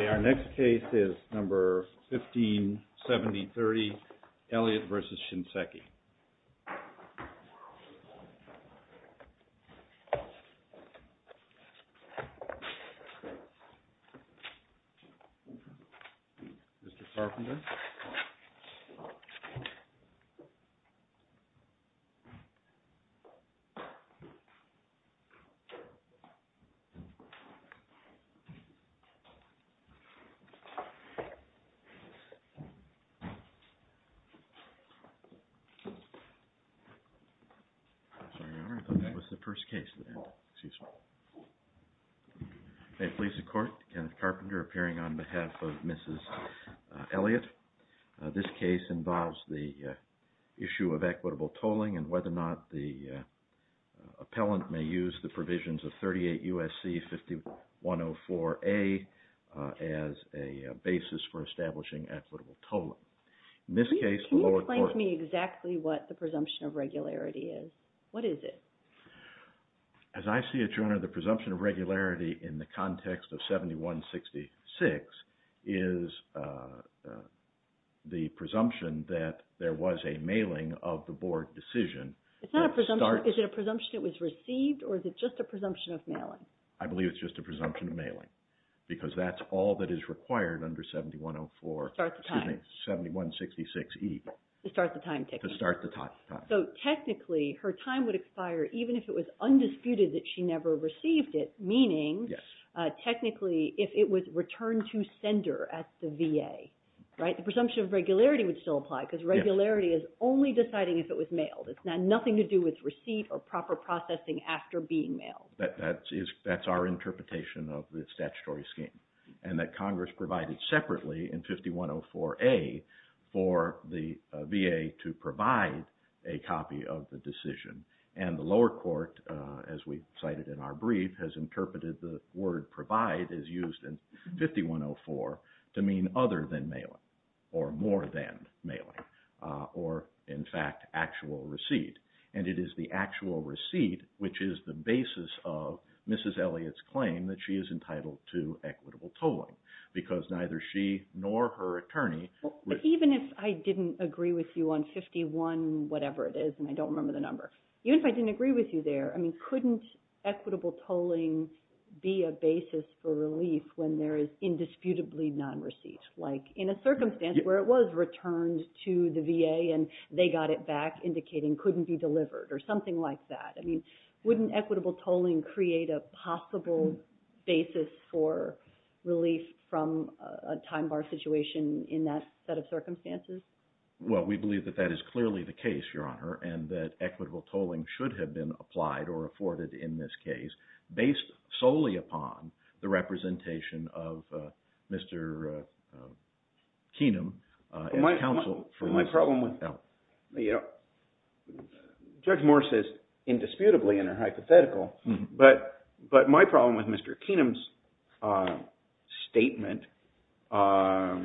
Okay, our next case is number 157030, Elliott v. Shinseki. Mr. Elliott, this case involves the issue of equitable tolling and whether or not the appellant may use the provisions of 38 U.S.C. 5104A as a basis for establishing equitable tolling. Can you explain to me exactly what the presumption of regularity is? What is it? As I see it, Your Honor, the presumption of regularity in the context of 7166 is the presumption that there was a mailing of the board decision. It's not a presumption. Is it a presumption it was received or is it just a presumption of mailing? I believe it's just a presumption of mailing because that's all that is required under 7104, excuse me, 7166E. To start the time, technically. To start the time. So technically, her time would expire even if it was undisputed that she never received it, meaning technically if it was returned to sender at the VA, right? The presumption of regularity would still apply because regularity is only deciding if it was mailed. It's nothing to do with receipt or proper processing after being mailed. That's our interpretation of the statutory scheme and that Congress provided separately in 5104A for the VA to provide a copy of the decision. The lower court, as we cited in our brief, has interpreted the word provide as used in 5104 to mean other than mailing or more than mailing or, in fact, actual receipt. And it is the actual receipt which is the basis of Mrs. Elliott's claim that she is entitled to equitable tolling because neither she nor her attorney. But even if I didn't agree with you on 51 whatever it is, and I don't remember the number, even if I didn't agree with you there, I mean, couldn't equitable tolling be a basis for relief when there is indisputably non-receipt? Like in a circumstance where it was returned to the VA and they got it back indicating couldn't be delivered or something like that. I mean, wouldn't equitable tolling create a possible basis for relief from a time bar situation in that set of circumstances? Well, we believe that that is clearly the case, Your Honor, and that equitable tolling should have been applied or afforded in this case based solely upon the representation of Mr. Keenum. My problem with – Judge Moore says indisputably in her hypothetical, but my problem with Mr. Keenum's statement, I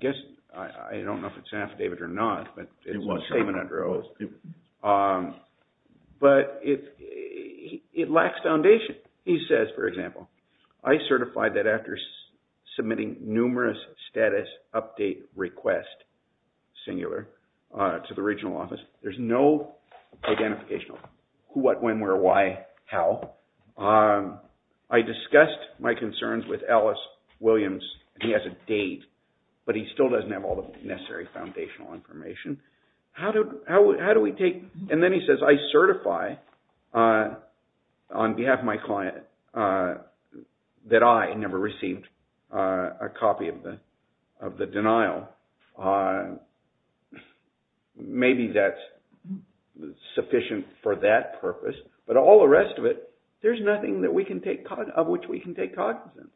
guess I don't know if it's an affidavit or not, but it's a statement under oath. But it lacks foundation. He says, for example, I certified that after submitting numerous status update request, singular, to the regional office, there's no identification of who, what, when, where, why, how. I discussed my concerns with Ellis Williams. He has a date, but he still doesn't have all the necessary foundational information. How do we take – and then he says, I certify on behalf of my client that I never received a copy of the denial. Maybe that's sufficient for that purpose, but all the rest of it, there's nothing that we can take – of which we can take cognizance.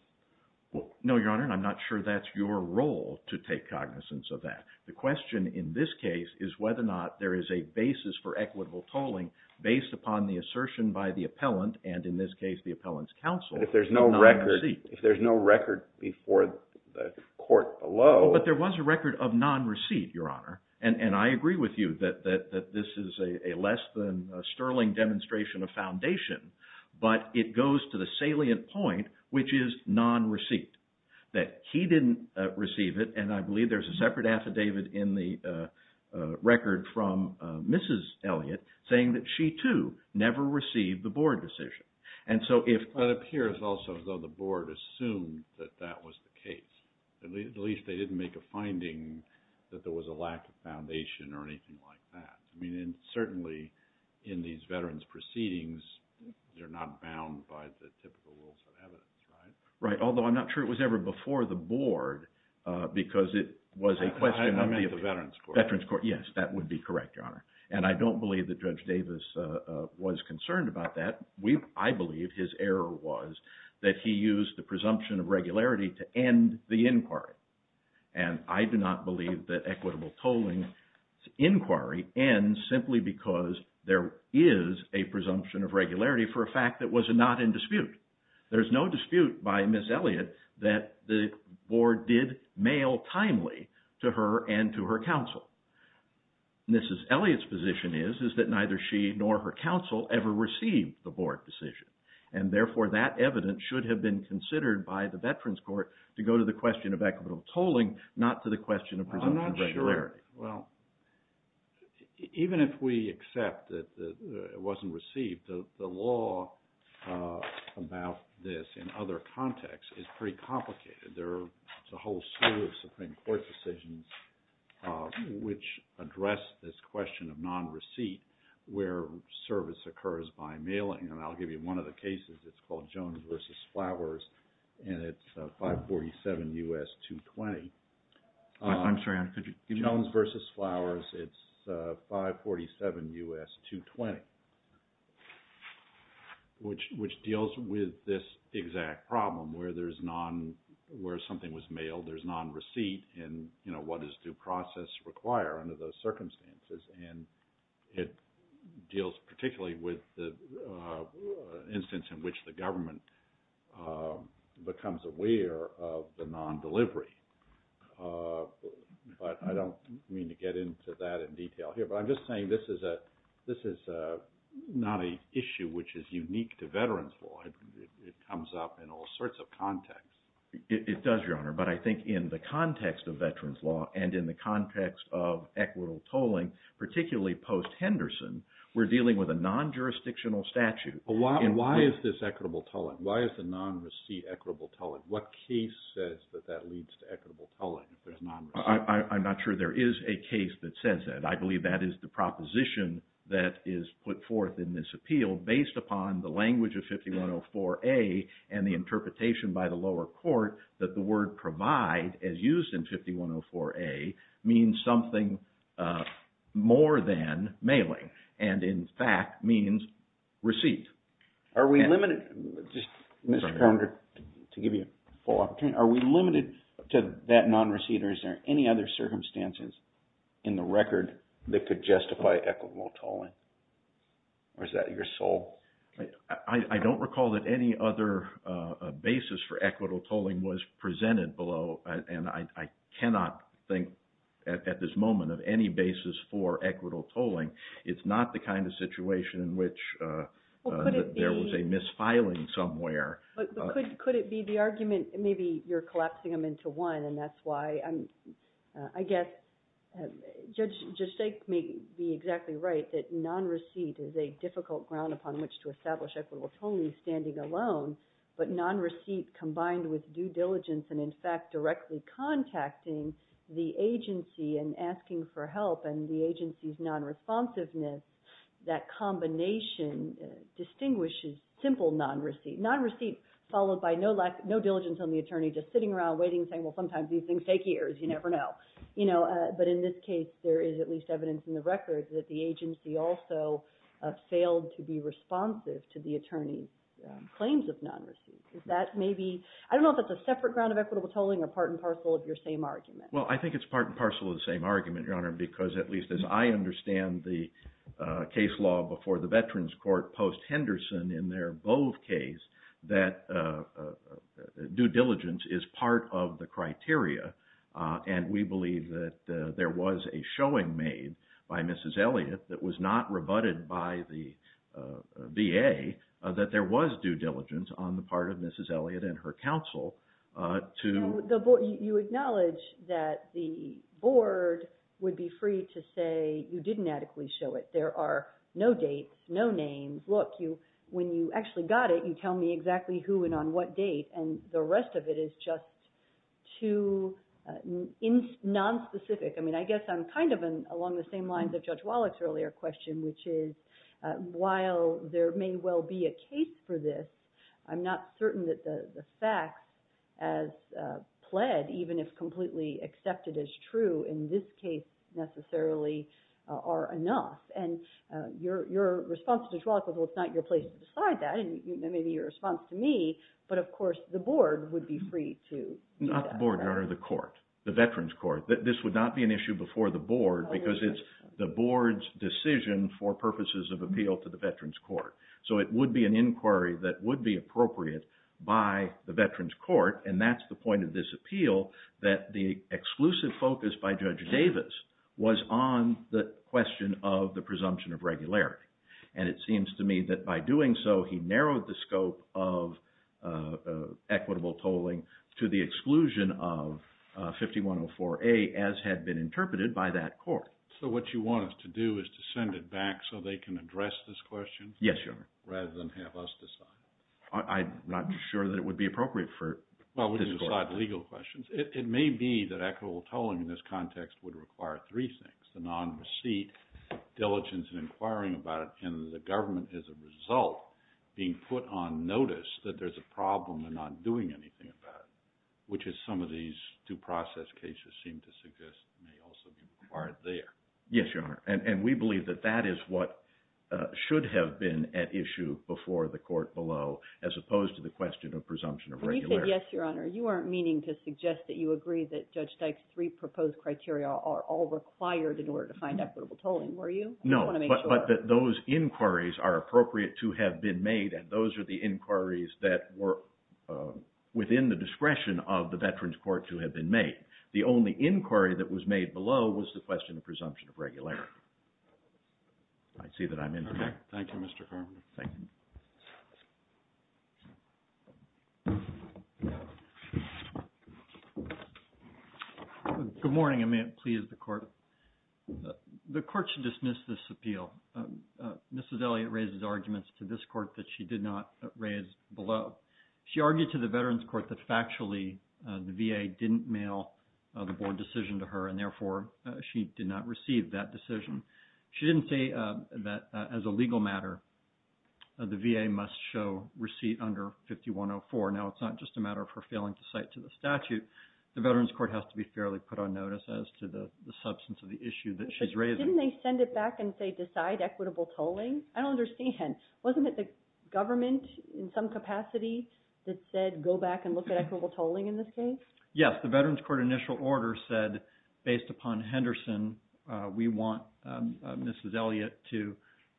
Well, no, Your Honor, and I'm not sure that's your role to take cognizance of that. The question in this case is whether or not there is a basis for equitable tolling based upon the assertion by the appellant and, in this case, the appellant's counsel. If there's no record before the court below. But there was a record of non-receipt, Your Honor, and I agree with you that this is a less than sterling demonstration of foundation, but it goes to the salient point, which is non-receipt. That he didn't receive it, and I believe there's a separate affidavit in the record from Mrs. Elliott saying that she, too, never received the board decision. But it appears also, though, the board assumed that that was the case. At least they didn't make a finding that there was a lack of foundation or anything like that. I mean, certainly, in these veterans proceedings, they're not bound by the typical rules of evidence, right? Right, although I'm not sure it was ever before the board because it was a question of the – I meant the veterans court. Veterans court, yes, that would be correct, Your Honor. And I don't believe that Judge Davis was concerned about that. I believe his error was that he used the presumption of regularity to end the inquiry. And I do not believe that equitable tolling inquiry ends simply because there is a presumption of regularity for a fact that was not in dispute. There's no dispute by Ms. Elliott that the board did mail timely to her and to her counsel. Mrs. Elliott's position is that neither she nor her counsel ever received the board decision. And therefore, that evidence should have been considered by the veterans court to go to the question of equitable tolling, not to the question of presumption of regularity. Well, even if we accept that it wasn't received, the law about this in other contexts is pretty complicated. There's a whole slew of Supreme Court decisions which address this question of non-receipt where service occurs by mailing. And I'll give you one of the cases. It's called Jones v. Flowers, and it's 547 U.S. 220. I'm sorry, could you repeat that? Jones v. Flowers, it's 547 U.S. 220, which deals with this exact problem where something was mailed. There's non-receipt, and what does due process require under those circumstances? And it deals particularly with the instance in which the government becomes aware of the non-delivery. But I don't mean to get into that in detail here, but I'm just saying this is not an issue which is unique to veterans law. It comes up in all sorts of contexts. It does, Your Honor, but I think in the context of veterans law and in the context of equitable tolling, particularly post-Henderson, we're dealing with a non-jurisdictional statute. Why is this equitable tolling? Why is the non-receipt equitable tolling? What case says that that leads to equitable tolling if there's non-receipt? I'm not sure there is a case that says that. I believe that is the proposition that is put forth in this appeal based upon the language of 5104A and the interpretation by the lower court that the word provide, as used in 5104A, means something more than mailing, and in fact means receipt. Are we limited to that non-receipt, or is there any other circumstances in the record that could justify equitable tolling? Or is that your soul? I don't recall that any other basis for equitable tolling was presented below, and I cannot think at this moment of any basis for equitable tolling. It's not the kind of situation in which there was a misfiling somewhere. Could it be the argument, maybe you're collapsing them into one, and that's why I guess Judge Stake may be exactly right that non-receipt is a difficult ground upon which to establish equitable tolling standing alone, but non-receipt combined with due diligence and, in fact, directly contacting the agency and asking for help and the agency's non-responsiveness, that combination distinguishes simple non-receipt. Non-receipt followed by no diligence on the attorney, just sitting around waiting and saying, well, sometimes these things take years, you never know. But in this case, there is at least evidence in the record that the agency also failed to be responsive to the attorney's claims of non-receipt. Is that maybe – I don't know if that's a separate ground of equitable tolling or part and parcel of your same argument. Your Honor, because at least as I understand the case law before the Veterans Court post-Henderson in their Bove case, that due diligence is part of the criteria. And we believe that there was a showing made by Mrs. Elliott that was not rebutted by the VA that there was due diligence on the part of Mrs. Elliott and her counsel to – You acknowledge that the board would be free to say you didn't adequately show it. There are no dates, no names. Look, when you actually got it, you tell me exactly who and on what date, and the rest of it is just too nonspecific. I mean, I guess I'm kind of along the same lines of Judge Wallach's earlier question, which is while there may well be a case for this, I'm not certain that the facts as pled, even if completely accepted as true in this case necessarily, are enough. And your response to Judge Wallach was, well, it's not your place to decide that. And maybe your response to me, but of course the board would be free to do that. Not the board, Your Honor, the court, the Veterans Court. This would not be an issue before the board because it's the board's decision for purposes of appeal to the Veterans Court. So it would be an inquiry that would be appropriate by the Veterans Court, and that's the point of this appeal, that the exclusive focus by Judge Davis was on the question of the presumption of regularity. And it seems to me that by doing so, he narrowed the scope of equitable tolling to the exclusion of 5104A as had been interpreted by that court. So what you want us to do is to send it back so they can address this question? Yes, Your Honor. Rather than have us decide. I'm not sure that it would be appropriate for this court. It may be that equitable tolling in this context would require three things, the non-receipt, diligence in inquiring about it, and the government as a result being put on notice that there's a problem in not doing anything about it, which is some of these due process cases seem to suggest may also be required there. Yes, Your Honor. And we believe that that is what should have been at issue before the court below as opposed to the question of presumption of regularity. You said yes, Your Honor. You aren't meaning to suggest that you agree that Judge Dyke's three proposed criteria are all required in order to find equitable tolling, were you? No. I just want to make sure. But those inquiries are appropriate to have been made, and those are the inquiries that were within the discretion of the Veterans Court to have been made. The only inquiry that was made below was the question of presumption of regularity. I see that I'm in. Okay. Thank you, Mr. Carman. Thank you. Good morning, and may it please the court. The court should dismiss this appeal. Mrs. Elliott raises arguments to this court that she did not raise below. She argued to the Veterans Court that factually the VA didn't mail the board decision to her, and therefore she did not receive that decision. She didn't say that as a legal matter the VA must show receipt under 5104. Now, it's not just a matter of her failing to cite to the statute. The Veterans Court has to be fairly put on notice as to the substance of the issue that she's raising. But didn't they send it back and say decide equitable tolling? I don't understand. Wasn't it the government in some capacity that said go back and look at equitable tolling in this case? Yes. The Veterans Court initial order said, based upon Henderson, we want Mrs. Elliott to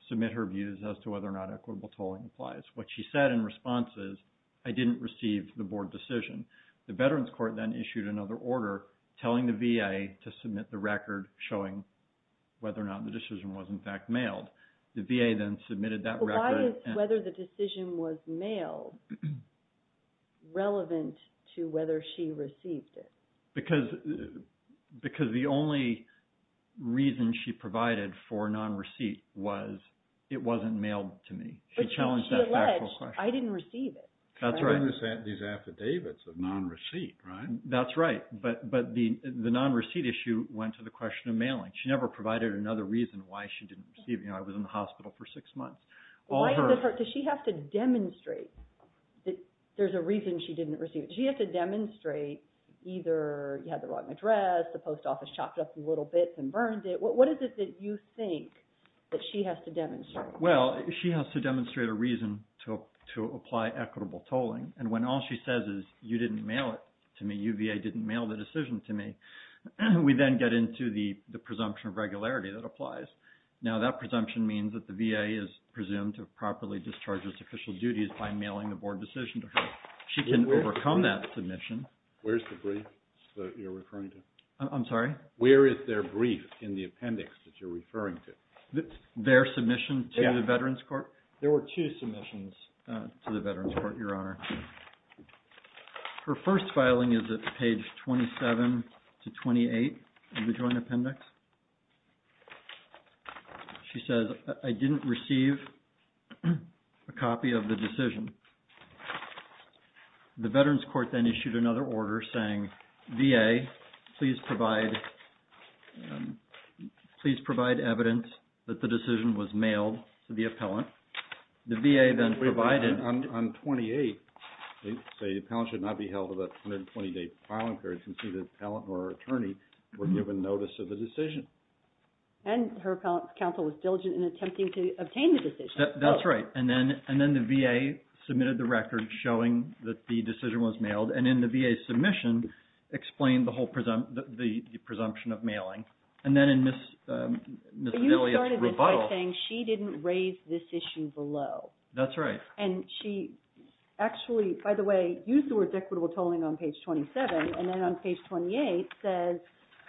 submit her views as to whether or not equitable tolling applies. What she said in response is, I didn't receive the board decision. The Veterans Court then issued another order telling the VA to submit the record showing whether or not the decision was, in fact, mailed. The VA then submitted that record. Why is whether the decision was mailed relevant to whether she received it? Because the only reason she provided for non-receipt was it wasn't mailed to me. She challenged that factual question. But she alleged, I didn't receive it. That's right. I read these affidavits of non-receipt, right? That's right. But the non-receipt issue went to the question of mailing. She never provided another reason why she didn't receive it. I was in the hospital for six months. Does she have to demonstrate that there's a reason she didn't receive it? Does she have to demonstrate either you had the wrong address, the post office chopped up the little bits and burned it? What is it that you think that she has to demonstrate? Well, she has to demonstrate a reason to apply equitable tolling. And when all she says is you didn't mail it to me, you VA didn't mail the decision to me, we then get into the presumption of regularity that applies. Now, that presumption means that the VA is presumed to have properly discharged its official duties by mailing the board decision to her. She can overcome that submission. Where's the brief that you're referring to? I'm sorry? Where is their brief in the appendix that you're referring to? Their submission to the Veterans Court? There were two submissions to the Veterans Court, Your Honor. Her first filing is at page 27 to 28 of the joint appendix. She says, I didn't receive a copy of the decision. The Veterans Court then issued another order saying, VA, please provide evidence that the decision was mailed to the appellant. The VA then provided. On 28, they say the appellant should not be held with a 120-day filing period since the appellant or attorney were given notice of the decision. And her counsel was diligent in attempting to obtain the decision. That's right. And then the VA submitted the record showing that the decision was mailed. And in the VA submission, explained the presumption of mailing. And then in Ms. Amelia's rebuttal. But you started by saying she didn't raise this issue below. That's right. And she actually, by the way, used the words equitable tolling on page 27. And then on page 28 says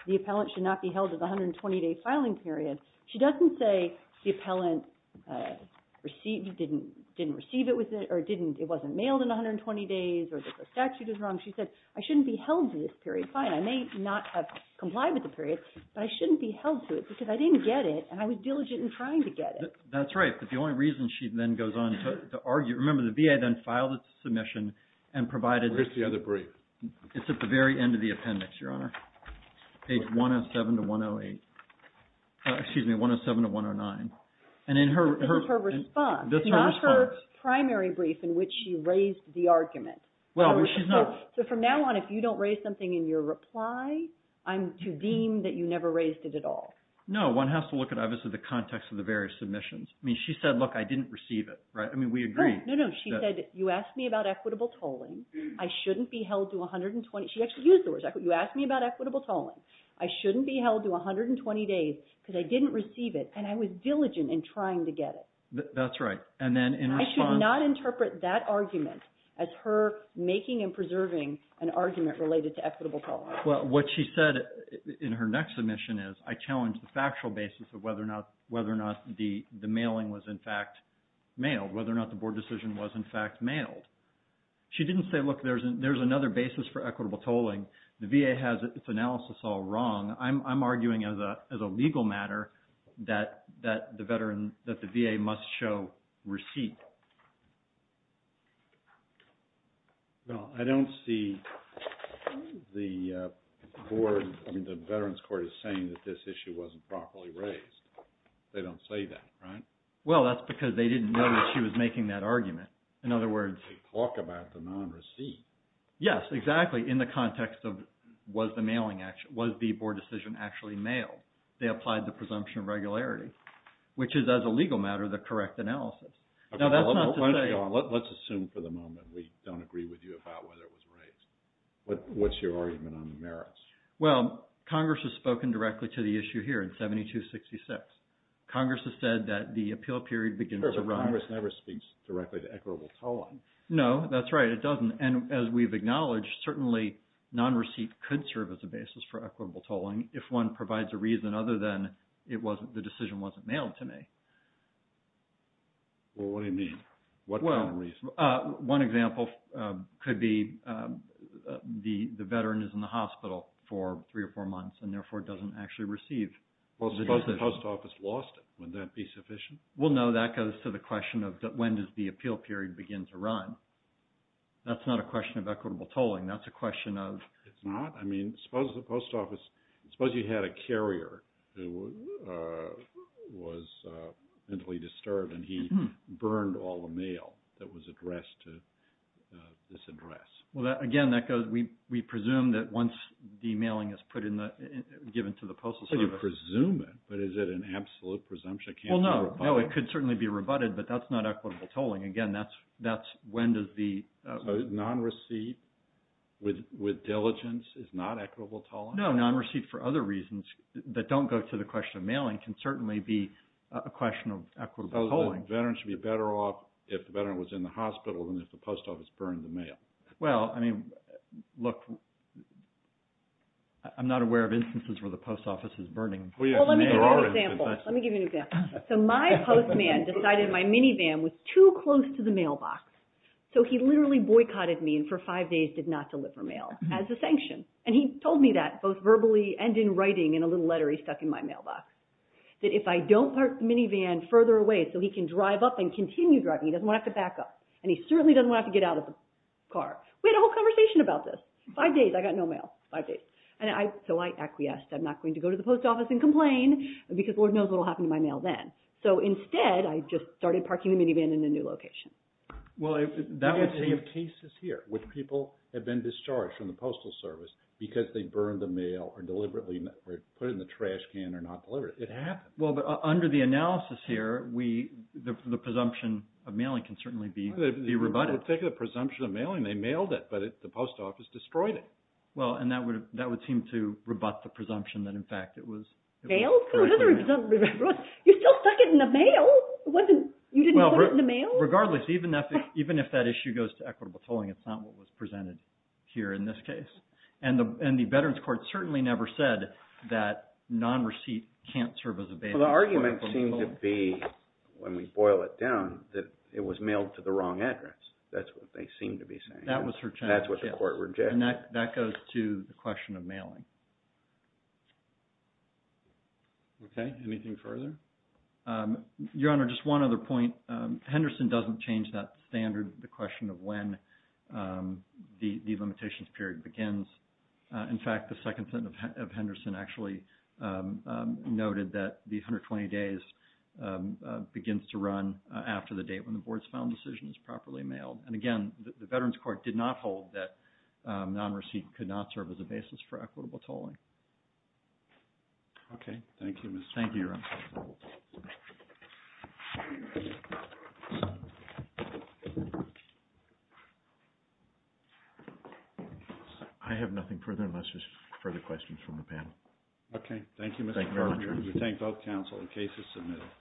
the appellant should not be held with a 120-day filing period. She doesn't say the appellant didn't receive it or it wasn't mailed in 120 days or the statute is wrong. She said, I shouldn't be held to this period. Fine. I may not have complied with the period, but I shouldn't be held to it because I didn't get it and I was diligent in trying to get it. That's right. But the only reason she then goes on to argue. Remember, the VA then filed its submission and provided. Where's the other brief? It's at the very end of the appendix, Your Honor. Page 107 to 108. Excuse me, 107 to 109. This is her response. This is her response. It's not her primary brief in which she raised the argument. Well, she's not. So from now on, if you don't raise something in your reply, I'm to deem that you never raised it at all. No, one has to look at, obviously, the context of the various submissions. I mean, she said, look, I didn't receive it, right? I mean, we agree. No, no. She said, you asked me about equitable tolling. I shouldn't be held to 120. She actually used the word equitable. You asked me about equitable tolling. I shouldn't be held to 120 days because I didn't receive it, and I was diligent in trying to get it. That's right. And then in response. I should not interpret that argument as her making and preserving an argument related to equitable tolling. Well, what she said in her next submission is, I challenge the factual basis of whether or not the mailing was, in fact, mailed, whether or not the board decision was, in fact, mailed. She didn't say, look, there's another basis for equitable tolling. The VA has its analysis all wrong. I'm arguing as a legal matter that the VA must show receipt. Well, I don't see the board, I mean, the Veterans Court is saying that this issue wasn't properly raised. They don't say that, right? Well, that's because they didn't know that she was making that argument. In other words. They talk about the non-receipt. Yes, exactly, in the context of was the board decision actually mailed. They applied the presumption of regularity, which is, as a legal matter, the correct analysis. Now, that's not to say. Let's assume for the moment we don't agree with you about whether it was raised. What's your argument on the merits? Well, Congress has spoken directly to the issue here in 7266. Congress has said that the appeal period begins to run. Congress never speaks directly to equitable tolling. No, that's right. It doesn't. And as we've acknowledged, certainly non-receipt could serve as a basis for equitable tolling if one provides a reason other than the decision wasn't mailed to me. Well, what do you mean? What kind of reason? One example could be the veteran is in the hospital for three or four months and therefore doesn't actually receive the decision. Well, suppose the post office lost it. Wouldn't that be sufficient? Well, no. That goes to the question of when does the appeal period begin to run. That's not a question of equitable tolling. That's a question of – It's not? I mean, suppose the post office – suppose you had a carrier who was mentally disturbed and he burned all the mail that was addressed to this address. Well, again, that goes – we presume that once the mailing is put in the – given to the post office – So you presume it, but is it an absolute presumption? Well, no. No, it could certainly be rebutted, but that's not equitable tolling. Again, that's when does the – So non-receipt with diligence is not equitable tolling? No, non-receipt for other reasons that don't go to the question of mailing can certainly be a question of equitable tolling. So the veteran should be better off if the veteran was in the hospital than if the post office burned the mail? Well, I mean, look, I'm not aware of instances where the post office is burning the mail. Well, let me give you an example. Let me give you an example. So my postman decided my minivan was too close to the mailbox, so he literally boycotted me and for five days did not deliver mail as a sanction. And he told me that both verbally and in writing in a little letter he stuck in my mailbox, that if I don't park the minivan further away so he can drive up and continue driving, he doesn't want to have to back up, and he certainly doesn't want to have to get out of the car. We had a whole conversation about this. Five days, I got no mail. Five days. So I acquiesced. I'm not going to go to the post office and complain because Lord knows what will happen to my mail then. So instead, I just started parking the minivan in a new location. Well, that would be a case here where people have been discharged from the Postal Service because they burned the mail or deliberately put it in the trash can or not deliver it. It happened. Well, but under the analysis here, the presumption of mailing can certainly be rebutted. Well, take the presumption of mailing. They mailed it, but the post office destroyed it. Well, and that would seem to rebut the presumption that, in fact, it was… Mailed? You still stuck it in the mail. You didn't put it in the mail? Regardless, even if that issue goes to equitable tolling, it's not what was presented here in this case. And the Veterans Court certainly never said that non-receipt can't serve as a bail- Well, the argument seemed to be, when we boil it down, that it was mailed to the wrong address. That's what they seem to be saying. That was her challenge. That's what the court rejected. And that goes to the question of mailing. Okay. Anything further? Your Honor, just one other point. Henderson doesn't change that standard, the question of when the limitations period begins. In fact, the second sentence of Henderson actually noted that the 120 days begins to run after the date when the board's final decision is properly mailed. And again, the Veterans Court did not hold that non-receipt could not serve as a basis for equitable tolling. Okay. Thank you, Your Honor. Thank you, Your Honor. I have nothing further unless there's further questions from the panel. Okay. Thank you, Mr. Garber. Thank you, Your Honor. We thank both counsel. The case is submitted.